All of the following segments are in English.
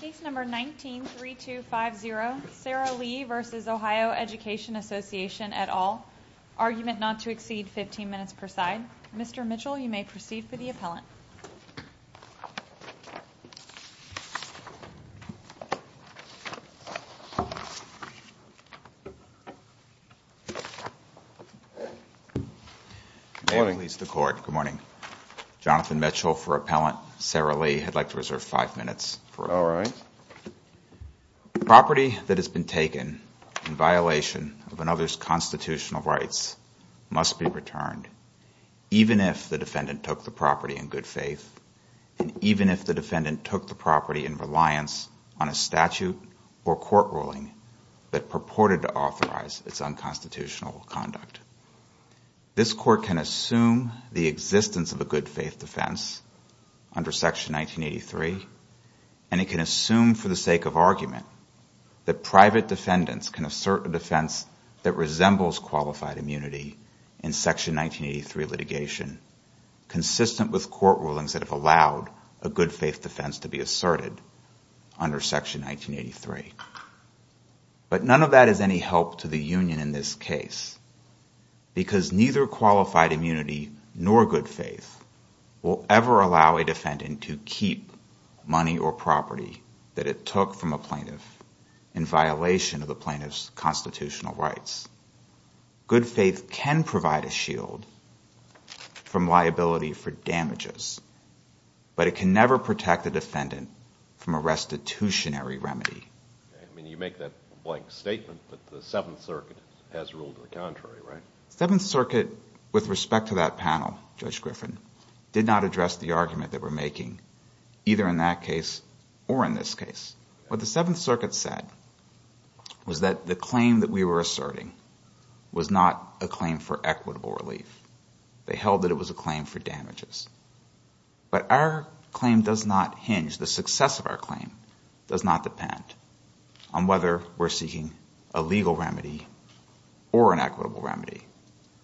Case number 19-3250, Sarah Lee v. Ohio Education Association et al., argument not to exceed 15 minutes per side. Mr. Mitchell, you may proceed for the appellant. Good morning. Good morning. Jonathan Mitchell for appellant. Sarah Lee, I'd like to reserve five minutes. All right. Property that has been taken in violation of another's constitutional rights must be returned, even if the defendant took the property in good faith, and even if the defendant took the property in reliance on a statute or court ruling that purported to authorize its unconstitutional conduct. This court can assume the existence of a good can assume for the sake of argument that private defendants can assert a defense that resembles qualified immunity in Section 1983 litigation, consistent with court rulings that have allowed a good faith defense to be asserted under Section 1983. But none of that is any help to the union in this case, because neither qualified immunity nor good faith will ever allow a defendant to keep money or property that it took from a plaintiff in violation of the plaintiff's constitutional rights. Good faith can provide a shield from liability for damages, but it can never protect a defendant from a restitutionary remedy. I mean, you make that blank statement, but the Seventh Circuit has ruled in the contrary, right? The Seventh Circuit, with respect to that argument that we're making, either in that case or in this case, what the Seventh Circuit said was that the claim that we were asserting was not a claim for equitable relief. They held that it was a claim for damages. But our claim does not hinge, the success of our claim does not depend on whether we're seeking a legal remedy or an equitable remedy.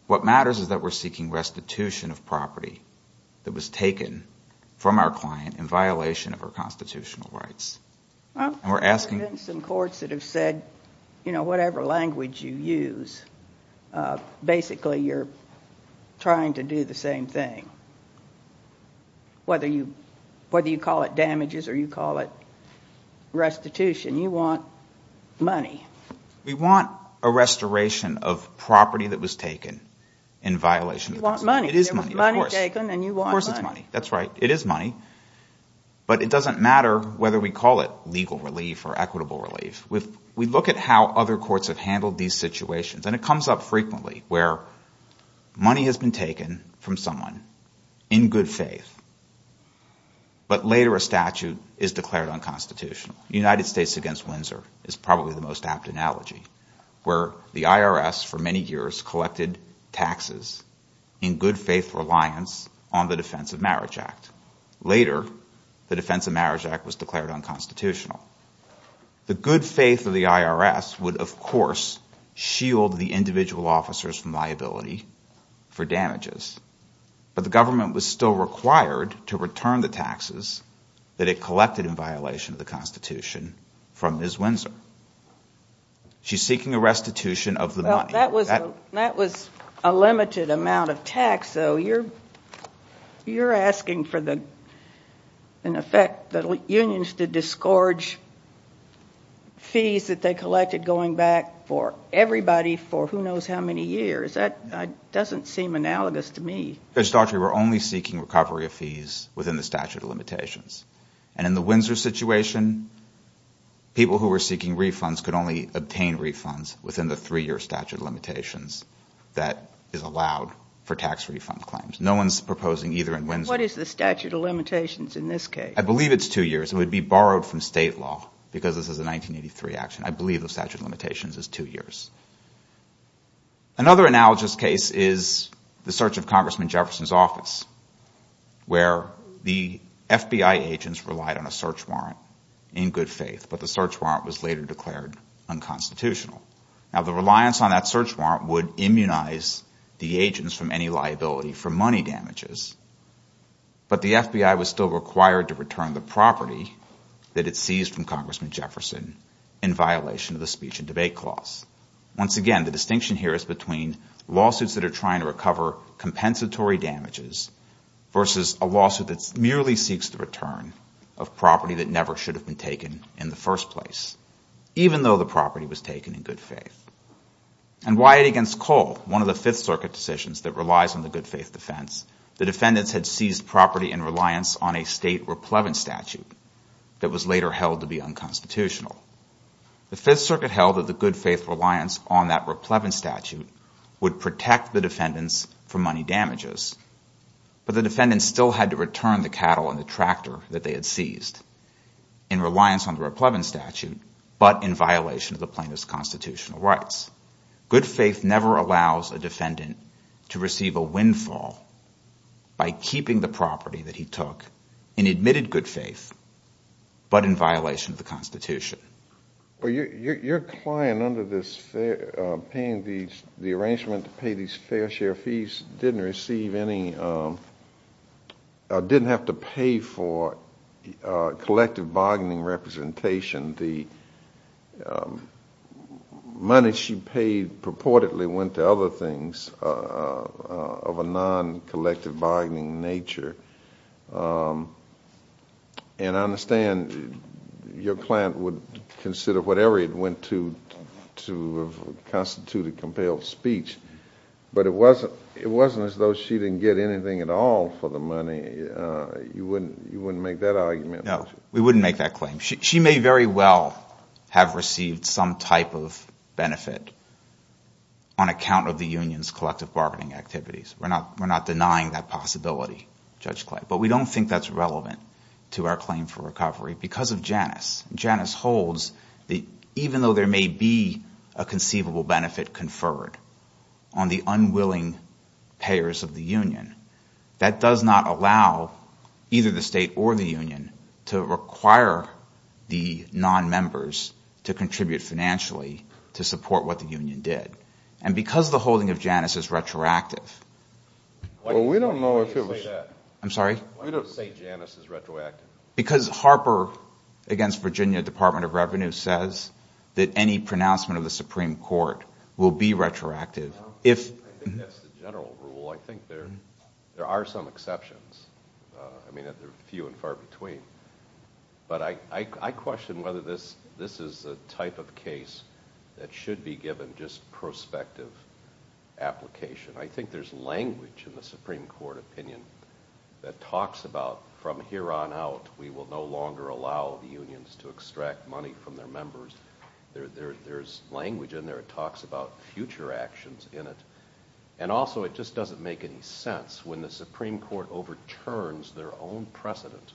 What matters is that we're seeking restitution of property that was taken from our client in violation of our constitutional rights. There have been some courts that have said, whatever language you use, basically you're trying to do the same thing. Whether you call it damages or you call it restitution, you want money. We want a restoration of property that was taken in violation of constitutional rights. You want money. It is money, of course. There was money taken and you want money. Of course it's money. That's right. It is money. But it doesn't matter whether we call it legal relief or equitable relief. We look at how other courts have handled these situations, and it comes up frequently where money has been taken from someone in good faith, but later a statute is declared unconstitutional. The United States against Windsor is probably the most apt analogy, where the IRS for many years collected taxes in good faith reliance on the Defense of Marriage Act. Later, the Defense of Marriage Act was declared unconstitutional. The good faith of the IRS would, of course, shield the individual officers from liability for damages, but the government was still required to return the taxes that it collected in violation of the Constitution from Ms. Windsor. She's seeking a restitution of the money. Well, that was a limited amount of tax, though. You're asking for the, in effect, the unions to disgorge fees that they collected going back for everybody for who knows how many years. That doesn't seem analogous to me. Judge Daugherty, we're only seeking recovery of fees within the statute of limitations. In the Windsor situation, people who were seeking refunds could only obtain refunds within the three-year statute of limitations that is allowed for tax refund claims. No one's proposing either in Windsor. What is the statute of limitations in this case? I believe it's two years. It would be borrowed from state law because this is a 1983 action. I believe the statute of limitations is two years. Another analogous case is the search of Congressman Jefferson's office where the FBI agents relied on a search warrant in good faith, but the search warrant was later declared unconstitutional. Now, the reliance on that search warrant would immunize the agents from any liability for money damages, but the FBI was still required to return the property that it seized from Once again, the distinction here is between lawsuits that are trying to recover compensatory damages versus a lawsuit that merely seeks the return of property that never should have been taken in the first place, even though the property was taken in good faith. And Wyatt against Cole, one of the Fifth Circuit decisions that relies on the good faith defense, the defendants had seized property in reliance on a state replevant statute that was later held to be unconstitutional. The Fifth Circuit held that the good faith reliance on that replevant statute would protect the defendants from money damages, but the defendants still had to return the cattle and the tractor that they had seized in reliance on the replevant statute, but in violation of the plaintiff's constitutional rights. Good faith never allows a defendant to receive a windfall by keeping the property that he Your client, under the arrangement to pay these fair share fees, didn't have to pay for collective bargaining representation. The money she paid purportedly went to other things of a non-collective bargaining nature. And I understand your client would consider whatever it went to to constitute a compelled speech, but it wasn't as though she didn't get anything at all for the money. You wouldn't make that argument? No. We wouldn't make that claim. She may very well have received some type of benefit on account of the union's collective bargaining activities. We're not denying that possibility, Judge Clay. But we don't think that's relevant to our claim for recovery because of Janus. Janus holds that even though there may be a conceivable benefit conferred on the unwilling payers of the union, that does not allow either the state or the union to require the non-members to contribute financially to support what the union did. And because the holding of Janus is retroactive, because Harper against Virginia Department of Revenue says that any pronouncement of the Supreme Court will be retroactive, if – I think that's the general rule. I think there are some exceptions. I mean, there are few and far between. But I question whether this is a type of case that should be given just prospective application. I think there's language in the Supreme Court opinion that talks about, from here on out, we will no longer allow the unions to extract money from their members. There's language in there. It talks about future actions in it. And also, it just doesn't make any sense when the Supreme Court overturns their own precedent,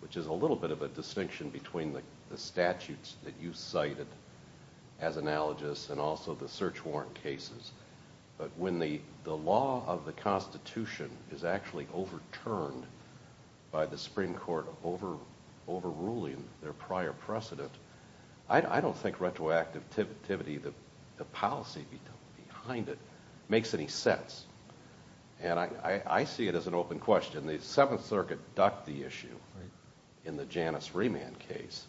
which is a little bit of a distinction between the statutes that you cited as analogous and also the search warrant cases. But when the law of the Constitution is actually overturned by the Supreme Court overruling their prior precedent, I don't think retroactivity, the policy behind it, makes any sense. And I see it as an open question. The Seventh Circuit ducked the issue in the Janus remand case,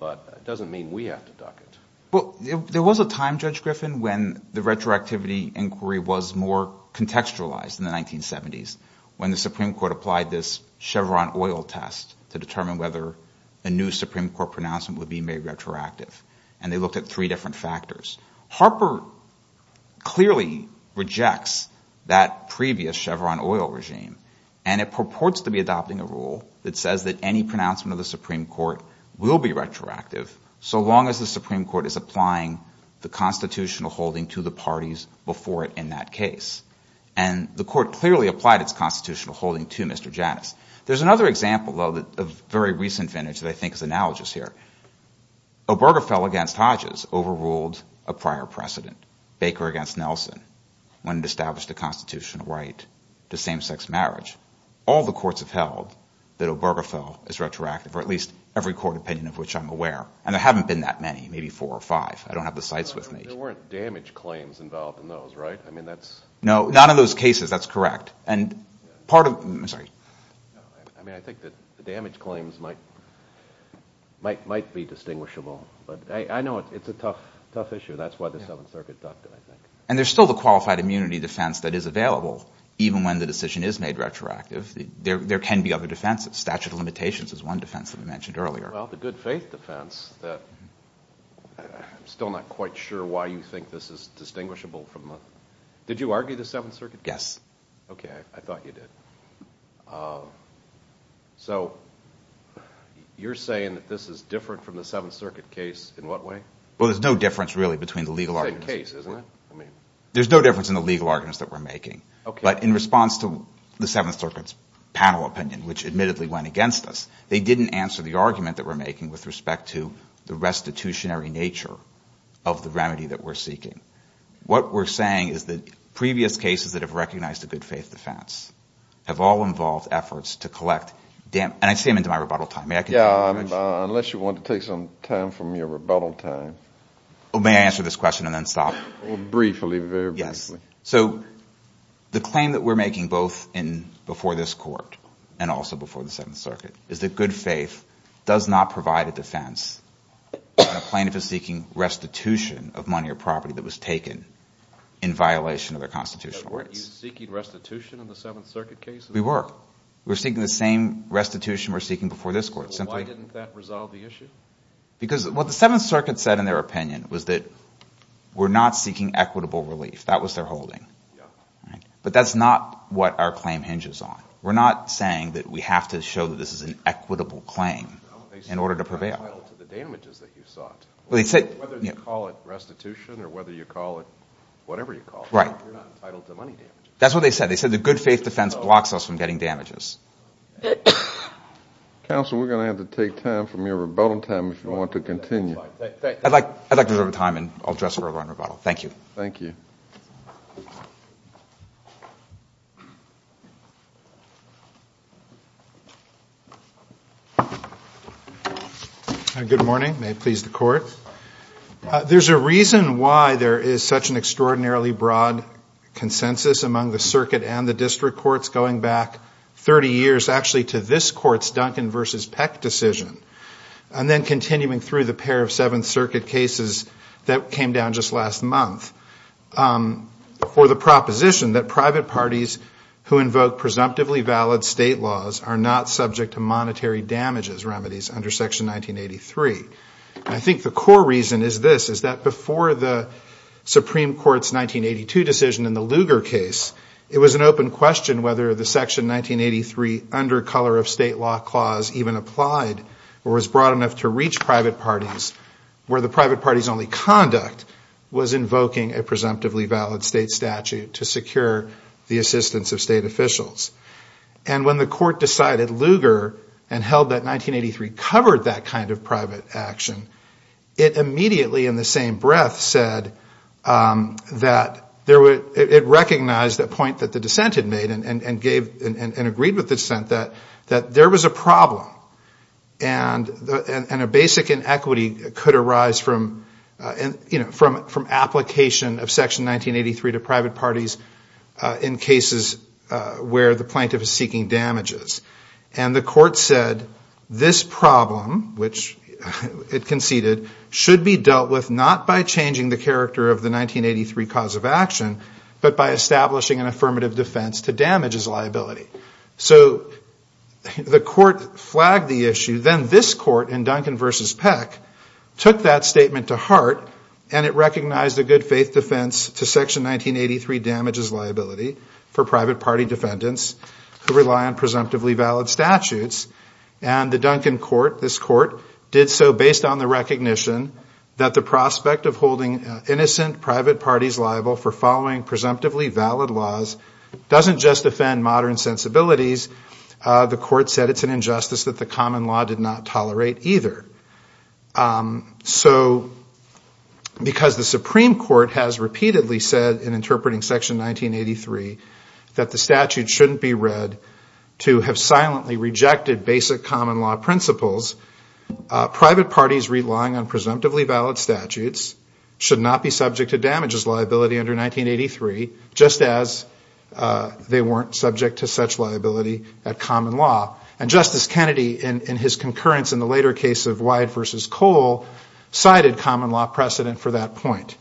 but it doesn't mean we have to duck it. Well, there was a time, Judge Griffin, when the retroactivity inquiry was more contextualized in the 1970s, when the Supreme Court applied this Chevron oil test to determine whether a new Supreme Court pronouncement would be made retroactive. And they looked at three different factors. Harper clearly rejects that previous Chevron oil regime, and it purports to be adopting a rule that says that any pronouncement of the Supreme Court will be retroactive so long as the Supreme Court is applying the constitutional holding to the parties before it in that case. And the Court clearly applied its constitutional holding to Mr. Janus. There's another example, though, of very recent vintage that I think is analogous here. Obergefell against Hodges overruled a prior precedent. Baker against Nelson, when it established the constitutional right to same-sex marriage. All the courts have held that Obergefell is retroactive, or at least every court opinion of which I'm aware. And there haven't been that many, maybe four or five. I don't have the cites with me. There weren't damage claims involved in those, right? No, none of those cases, that's correct. I mean, I think the damage claims might be distinguishable, but I know it's a tough issue. That's why the Seventh Circuit ducked it, I think. And there's still the qualified immunity defense that is available, even when the decision is made retroactive. There can be other defenses. Statute of limitations is one defense that we mentioned earlier. Well, the good faith defense that I'm still not quite sure why you think this is distinguishable from... Did you argue the Seventh Circuit? Yes. Okay, I thought you did. So you're saying that this is different from the Seventh Circuit case in what way? Well, there's no difference, really, between the legal arguments. It's a case, isn't it? There's no difference in the legal arguments that we're making. But in response to the Seventh Circuit's panel opinion, which admittedly went against us, they didn't answer the argument that we're making with respect to the restitutionary nature of the remedy that we're seeking. What we're saying is that previous cases that have recognized a good faith defense have all involved efforts to collect... And I see I'm into my rebuttal time. May I continue? Yeah, unless you want to take some time from your rebuttal time. Oh, may I answer this question and then stop? Briefly, very briefly. So the claim that we're making both before this Court and also before the Seventh Circuit is that good faith does not provide a defense when a plaintiff is seeking restitution of money or property that was taken in violation of their constitutional rights. So were you seeking restitution in the Seventh Circuit case? We were. We were seeking the same restitution we were seeking before this Court. So why didn't that resolve the issue? Because what the Seventh Circuit said in their opinion was that we're not seeking equitable relief. That was their holding. But that's not what our claim hinges on. We're not saying that we have to show that this is an equitable claim in order to prevail. No, they said it's not entitled to the damages that you sought. Whether you call it restitution or whether you call it whatever you call it, you're not entitled to money damages. That's what they said. They said the good faith defense blocks us from getting damages. Counsel, we're going to have to take time from your rebuttal time if you want to continue. I'd like to reserve time and I'll address further on rebuttal. Thank you. Thank you. Good morning. May it please the Court. There's a reason why there is such an extraordinarily broad consensus among the Circuit and the District Courts going back 30 years actually to this Court's Duncan v. Peck decision and then continuing through the pair of Seventh Circuit cases that came down just last month for the proposition that private parties who invoke presumptively valid state laws are not subject to monetary damages remedies under Section 1983. I think the core reason is this, is that before the Supreme Court's 1982 decision in the Lugar case, it was an open question whether the Section 1983 Undercolor of State Law Clause even applied or was broad enough to reach private parties where the private party's only conduct was invoking a presumptively valid state statute to secure the assistance of state officials. And when the Court decided Lugar and held that 1983 covered that kind of private action, it immediately in the same breath said that it recognized the point that the dissent had made and agreed with dissent that there was a problem and a basic inequity could arise from application of Section 1983 to private parties in cases where the plaintiff is seeking damages. And the Court said this problem, which it conceded, should be dealt with not by changing the character of the 1983 cause of action, but by establishing an affirmative defense to damages liability. So the Court flagged the issue, then this Court in Duncan v. Peck took that statement to heart and it recognized a good faith defense to Section 1983 damages liability for private party defendants who rely on presumptively valid statutes. And the Duncan Court, this Court, did so based on the recognition that the prospect of holding innocent private parties liable for following presumptively valid laws doesn't just offend modern sensibilities. The Court said it's an injustice that the common law did not tolerate either. So because the Supreme Court has repeatedly said in interpreting Section 1983 that the statute shouldn't be read to have silently rejected basic common law principles, private parties relying on presumptively valid statutes should not be subject to damages liability under 1983, just as they weren't subject to such liability at common law. And Justice Kennedy in his concurrence in the later case of Wyatt v. Cole cited common law precedent for that point.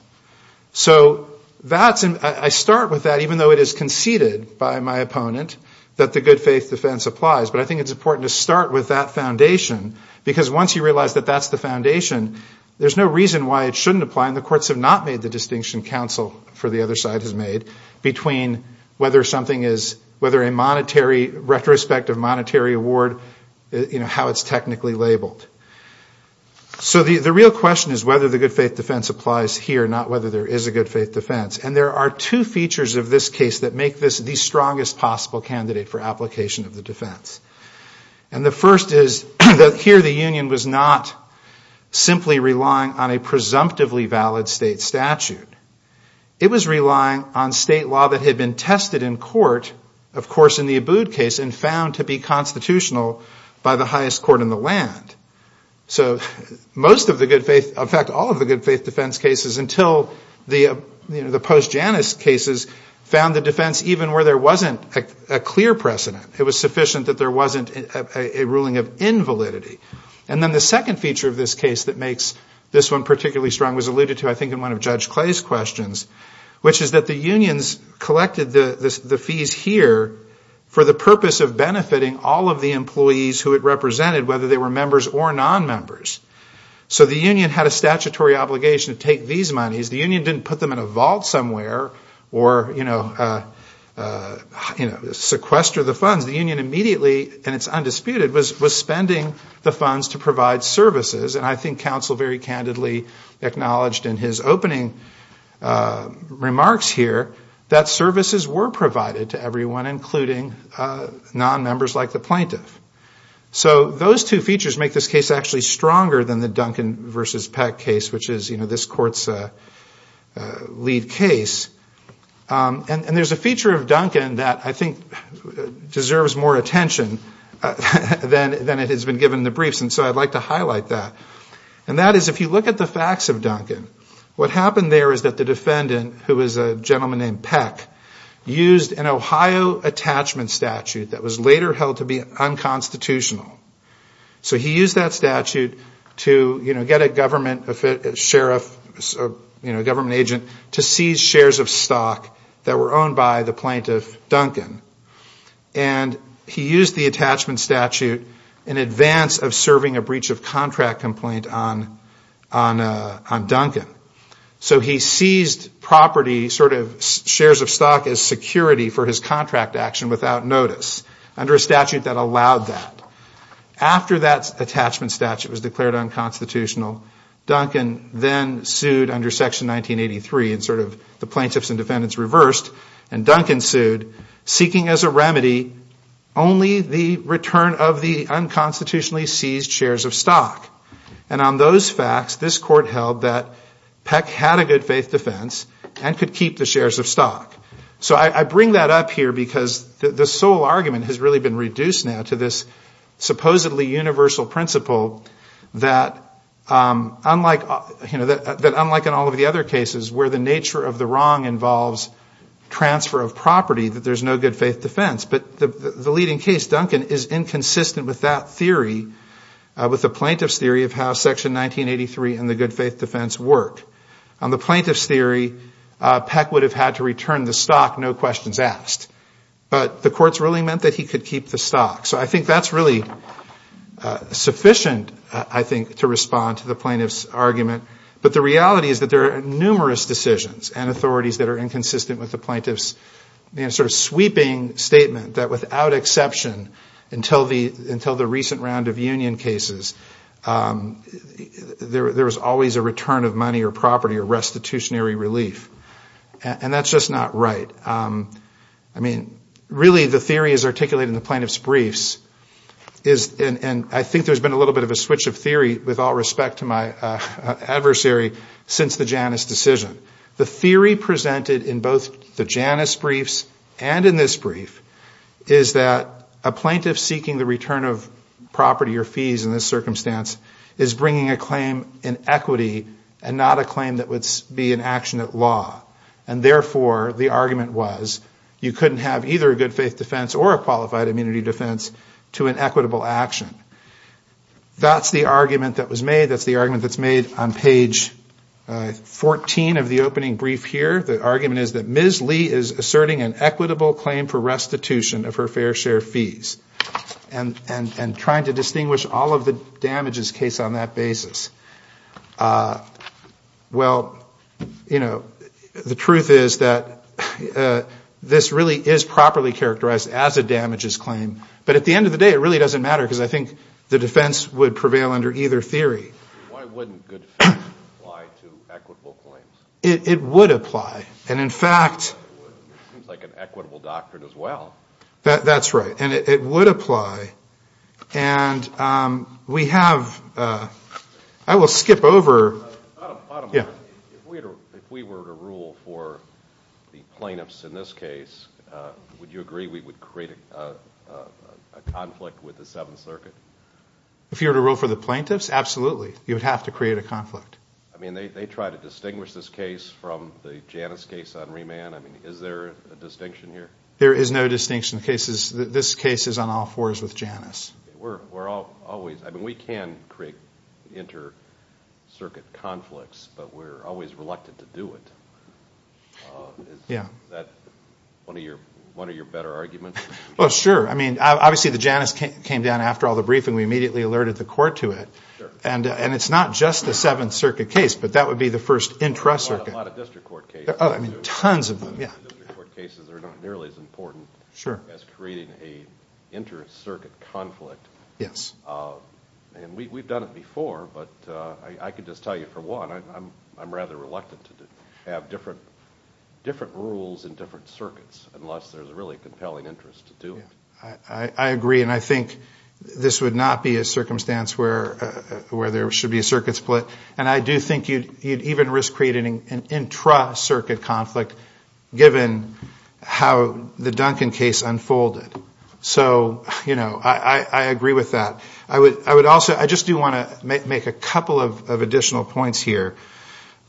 So that's, I start with that even though it is conceded by my opponent that the good faith defense applies. But I think it's important to start with that foundation because once you realize that that's the foundation, there's no reason why it shouldn't apply and the Courts have not made the distinction counsel for the other side has made between whether something is, whether a monetary retrospective monetary award, you know, how it's technically labeled. So the real question is whether the good faith defense applies here, not whether there is a good faith defense. And there are two features of this case that make this the strongest possible candidate for application of the defense. And the first is that here the union was not simply relying on a presumptively valid state statute. It was relying on state law that had been tested in court, of course in the Abood case and found to be constitutional by the highest court in the land. So most of the good faith, in fact all of the good faith defense cases until the post Janus cases found the defense even where there wasn't a clear precedent, it was sufficient that there wasn't a ruling of invalidity. And then the second feature of this case that makes this one particularly strong was alluded to I think in one of Judge Clay's questions, which is that the unions collected the fees here for the purpose of benefiting all of the employees who it represented whether they were members or non-members. So the union had a statutory obligation to take these monies. The union didn't put them in a vault somewhere or, you know, sequester the funds. The union immediately, and it's undisputed, was spending the funds to provide services. And I think counsel very candidly acknowledged in his opening remarks here that services were provided to everyone, including non-members like the plaintiff. So those two features make this case actually stronger than the Duncan v. Peck case, which is, you know, this court's lead case. And there's a feature of Duncan that I think deserves more attention than it has been given in the briefs, and so I'd like to highlight that. And that is if you look at the facts of Duncan, what happened there is that the defendant, who is a gentleman named Peck, used an Ohio attachment statute that was later held to be unconstitutional. So he used that statute to, you know, get a government sheriff, you know, a government agent, to seize shares of stock that were owned by the plaintiff, Duncan. And he used the attachment statute in advance of serving a breach of contract complaint on Duncan. So he seized property, sort of shares of stock, as security for his contract action without notice under a statute that allowed that. After that attachment statute was declared unconstitutional, Duncan then sued under Section 1983, and sort of the plaintiffs and defendants reversed, and Duncan sued, seeking as a remedy only the return of the unconstitutionally seized shares of stock. And on those facts, this court held that Peck had a good faith defense and could keep the shares of stock. So I bring that up here because the sole argument has really been reduced now to this supposedly universal principle that unlike in all of the other cases where the nature of the wrong involves transfer of property, that there's no good faith defense. But the leading case, Duncan, is inconsistent with that theory, with the plaintiff's theory of how Section 1983 and the good faith defense work. On the plaintiff's theory, Peck would have had to return the stock, no questions asked. But the court's ruling meant that he could keep the stock. So I think that's really sufficient, I think, to respond to the plaintiff's argument. But the reality is that there are numerous decisions and authorities that are inconsistent with the plaintiff's sort of sweeping statement that without exception, until the recent round of union cases, there was always a return of money or property or restitutionary relief. And that's just not right. I mean, really, the theory is articulated in the plaintiff's briefs, and I think there's been a little bit of a switch of theory, with all respect to my adversary, since the Janus decision. The theory presented in both the Janus briefs and in this brief is that a plaintiff seeking the return of property or fees in this circumstance is bringing a claim in equity and not a claim that would be an action at law. And therefore, the argument was, you couldn't have either a good faith defense or a qualified immunity defense to an equitable action. That's the argument that was made. That's the argument that's made on page 14 of the opening brief here. The argument is that Ms. Lee is asserting an equitable claim for restitution of her fair share fees. And trying to distinguish all of the damages case on that basis. Well, you know, the truth is that this really is properly characterized as a damages claim. But at the end of the day, it really doesn't matter, because I think the defense would prevail under either theory. Why wouldn't good faith apply to equitable claims? It would apply. And in fact... It seems like an equitable doctrine as well. That's right. And it would apply. And we have... I will skip over... Yeah. If we were to rule for the plaintiffs in this case, would you agree we would create a conflict with the Seventh Circuit? If you were to rule for the plaintiffs? Absolutely. You would have to create a conflict. I mean, they try to distinguish this case from the Janus case on remand. Is there a distinction here? There is no distinction. This case is on all fours with Janus. We're always... I mean, we can create inter-circuit conflicts, but we're always reluctant to do it. Yeah. Is that one of your better arguments? Well, sure. I mean, obviously the Janus came down after all the briefing. We immediately alerted the court to it. And it's not just the Seventh Circuit case, but that would be the first intra-circuit. A lot of district court cases. Oh, I mean, tons of them. District court cases are not nearly as important. Sure. As creating a inter-circuit conflict. Yes. And we've done it before, but I could just tell you for one, I'm rather reluctant to have different rules in different circuits unless there's a really compelling interest to do it. I agree, and I think this would not be a circumstance where there should be a circuit split. And I do think you'd even risk creating an intra-circuit conflict given how the Duncan case unfolded. So, you know, I agree with that. I would also, I just do want to make a couple of additional points here.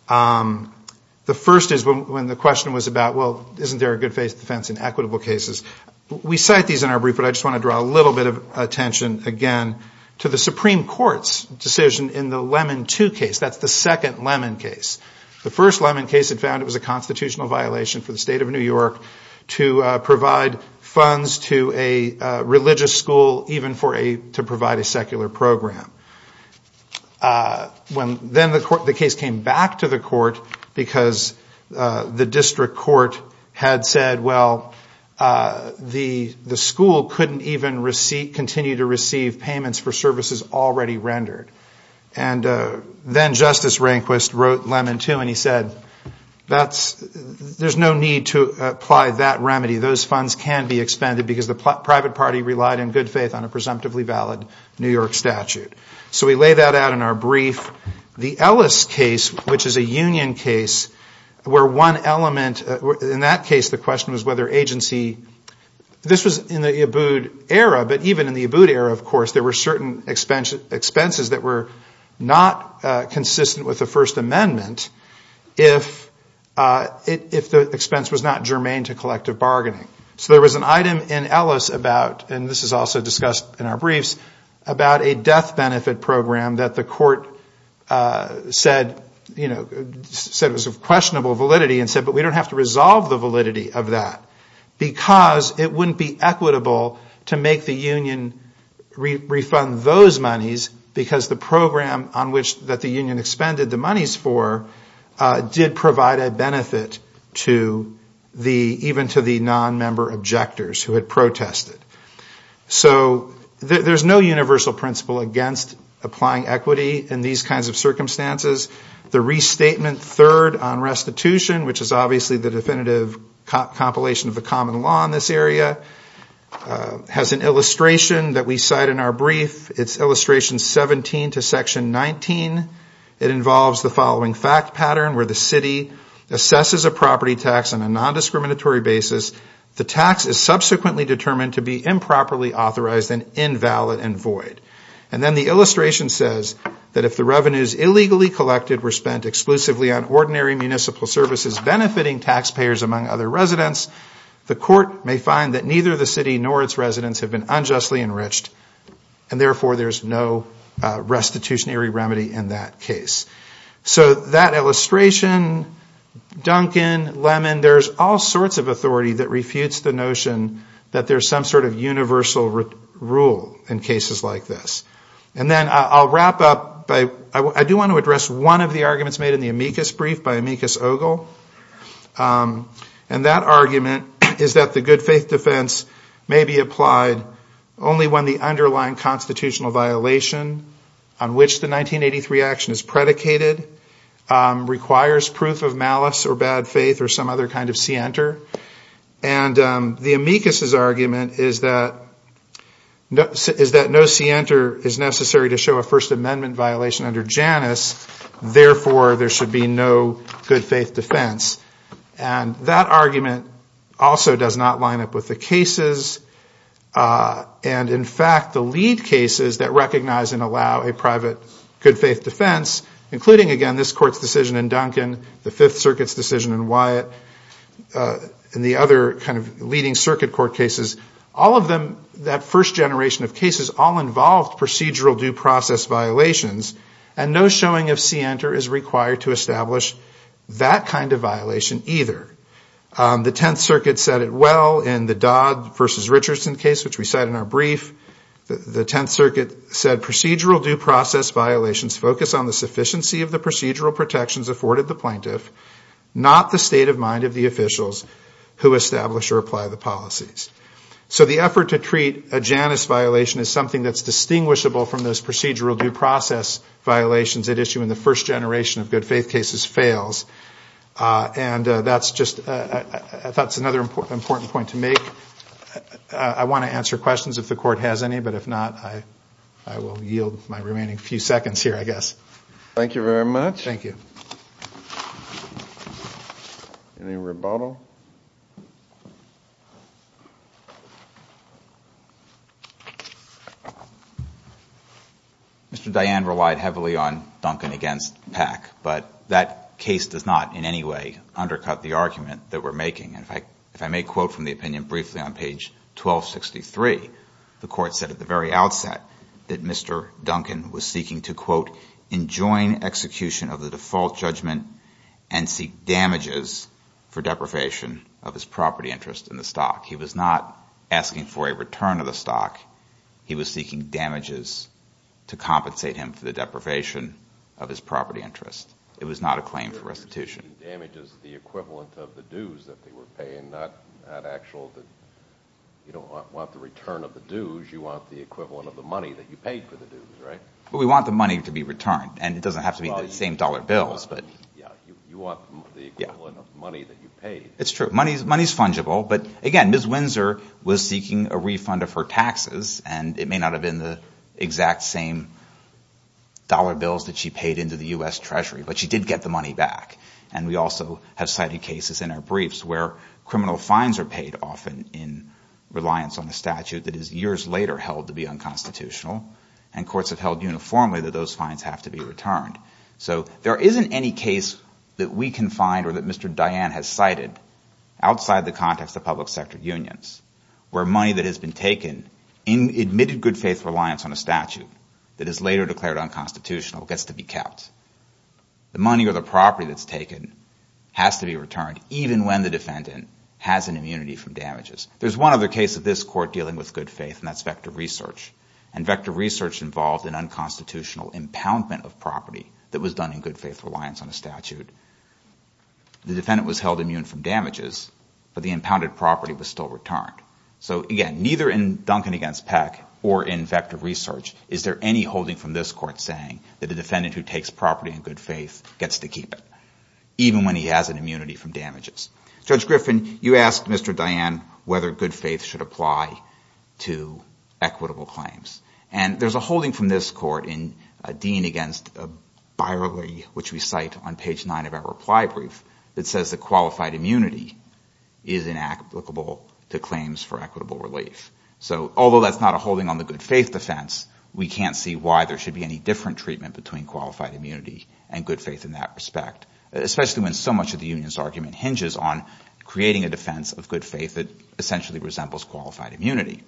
The first is when the question was about, well, isn't there a good defense in equitable cases? We cite these in our brief, but I just want to draw a little bit of attention again to the Supreme Court's decision in the Lemon II case. That's the second Lemon case. The first Lemon case had found it was a constitutional violation for the state of New York to provide funds to a religious school even to provide a secular program. Then the case came back to the court because the district court had said, well, the school couldn't even continue to receive payments for services already rendered. And then Justice Rehnquist wrote Lemon II, and he said there's no need to apply that remedy. Those funds can be expended because the private party relied in good faith on a presumptively valid New York statute. So we lay that out in our brief. The Ellis case, which is a union case, where one element, in that case the question was whether agency, this was in the Abood era, but even in the Abood era, of course, there were certain expenses that were not consistent with the First Amendment if the expense was not germane to collective bargaining. So there was an item in Ellis about, and this is also discussed in our briefs, about a death benefit program that the court said was of questionable validity and said, but we don't have to resolve the validity of that because it wouldn't be equitable to make the union refund those monies because the program that the union expended the monies for did provide a benefit even to the non-member objectors who had protested. So there's no universal principle against applying equity in these kinds of circumstances. The restatement third on restitution, which is obviously the definitive compilation of the common law in this area, has an illustration that we cite in our brief. It's illustration 17 to section 19. It involves the following fact pattern where the city assesses a property tax on a non-discriminatory basis. The tax is subsequently determined to be improperly authorized and invalid and void. And then the illustration says that if the revenues illegally collected were spent exclusively on ordinary municipal services benefiting taxpayers among other residents, the court may find that neither the city nor its residents have been unjustly enriched and therefore there's no restitutionary remedy in that case. So that illustration, Duncan, Lemon, that there's some sort of universal rule in cases like this. And then I'll wrap up. I do want to address one of the arguments made in the amicus brief by amicus ogle. And that argument is that the good faith defense may be applied only when the underlying constitutional violation on which the 1983 action is predicated requires proof of malice or bad faith or some other kind of scienter. And the amicus's argument is that no scienter is necessary to show a First Amendment violation under Janus, therefore there should be no good faith defense. And that argument also does not line up with the cases. And in fact, the lead cases that recognize and allow a private good faith defense, including, again, this court's decision in Duncan, the Fifth Circuit's decision in Wyatt, and the other kind of leading circuit court cases, all of them, that first generation of cases, all involved procedural due process violations. And no showing of scienter is required to establish that kind of violation either. The Tenth Circuit said it well in the Dodd versus Richardson case, which we cite in our brief. The Tenth Circuit said procedural due process violations focus on the sufficiency of the procedural protections afforded the plaintiff, not the state of mind of the officials who establish or apply the policies. So the effort to treat a Janus violation as something that's distinguishable from those procedural due process violations at issue in the first generation of good faith cases fails. And that's just another important point to make. I want to answer questions if the court has any. But if not, I will yield my remaining few seconds here, I guess. Thank you very much. Thank you. Any rebuttal? Mr. Diane relied heavily on Duncan against Pack. But that case does not in any way undercut the argument that we're making. And if I may quote from the opinion briefly on page 1263, the court said at the very outset that Mr. Duncan was seeking to, quote, enjoin execution of the default judgment and seek damages for deprivation of his property interest in the stock. He was not asking for a return of the stock. He was seeking damages to compensate him for the deprivation of his property interest. He was paying not actual, you don't want the return of the dues. You want the equivalent of the money that you paid for the dues, right? Well, we want the money to be returned. And it doesn't have to be the same dollar bills. You want the equivalent of money that you paid. It's true. Money is fungible. But again, Ms. Windsor was seeking a refund of her taxes. And it may not have been the exact same dollar bills that she paid into the U.S. Treasury. But she did get the money back. And we also have cited cases in our briefs where criminal fines are paid often in reliance on the statute that is years later held to be unconstitutional. And courts have held uniformly that those fines have to be returned. So there isn't any case that we can find or that Mr. Diane has cited outside the context of public sector unions where money that has been taken in admitted good faith reliance on a statute that is later declared unconstitutional gets to be kept. The money or the property that's taken has to be returned even when the defendant has an immunity from damages. There's one other case of this court dealing with good faith, and that's Vector Research. And Vector Research involved an unconstitutional impoundment of property that was done in good faith reliance on a statute. The defendant was held immune from damages, but the impounded property was still returned. So, again, neither in Duncan v. Peck or in Vector Research is there any holding from this court saying that a defendant who takes property in good faith gets to keep it, even when he has an immunity from damages. Judge Griffin, you asked Mr. Diane whether good faith should apply to equitable claims. And there's a holding from this court in Dean v. Byerly, which we cite on page 9 of the reply brief, that says that qualified immunity is inapplicable to claims for equitable relief. So, although that's not a holding on the good faith defense, we can't see why there should be any different treatment between qualified immunity and good faith in that respect, especially when so much of the union's argument hinges on creating a defense of good faith that essentially resembles qualified immunity.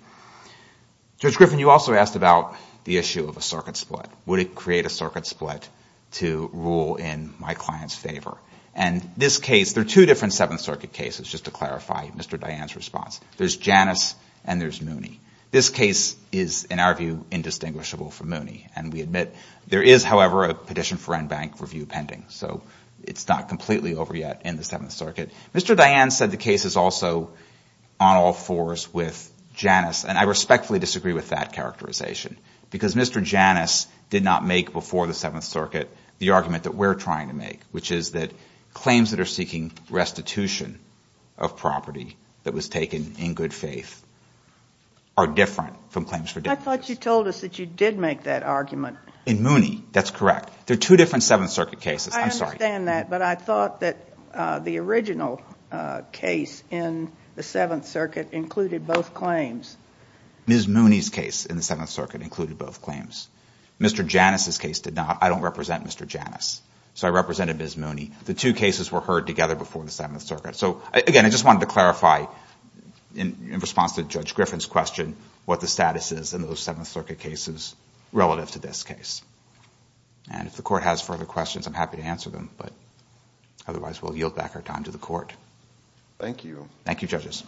Judge Griffin, you also asked about the issue of a circuit split. Would it create a circuit split to rule in my client's favor? And this case, there are two different Seventh Circuit cases, just to clarify Mr. Diane's response. There's Janus and there's Mooney. This case is, in our view, indistinguishable from Mooney. And we admit there is, however, a petition for en banc review pending. So it's not completely over yet in the Seventh Circuit. Mr. Diane said the case is also on all fours with Janus. And I respectfully disagree with that characterization, because Mr. Janus did not make before the Seventh Circuit the argument that we're trying to make, which is that claims that are seeking restitution of property that was taken in good faith are different from claims for damages. And I thought you told us that you did make that argument. In Mooney, that's correct. There are two different Seventh Circuit cases. I understand that, but I thought that the original case in the Seventh Circuit included both claims. Ms. Mooney's case in the Seventh Circuit included both claims. Mr. Janus's case did not. I don't represent Mr. Janus, so I represented Ms. Mooney. The two cases were heard together before the Seventh Circuit. So, again, I just wanted to clarify in response to Judge Griffin's question what the status is in those Seventh Circuit cases relative to this case. And if the court has further questions, I'm happy to answer them. But otherwise, we'll yield back our time to the court. Thank you. Thank you, judges.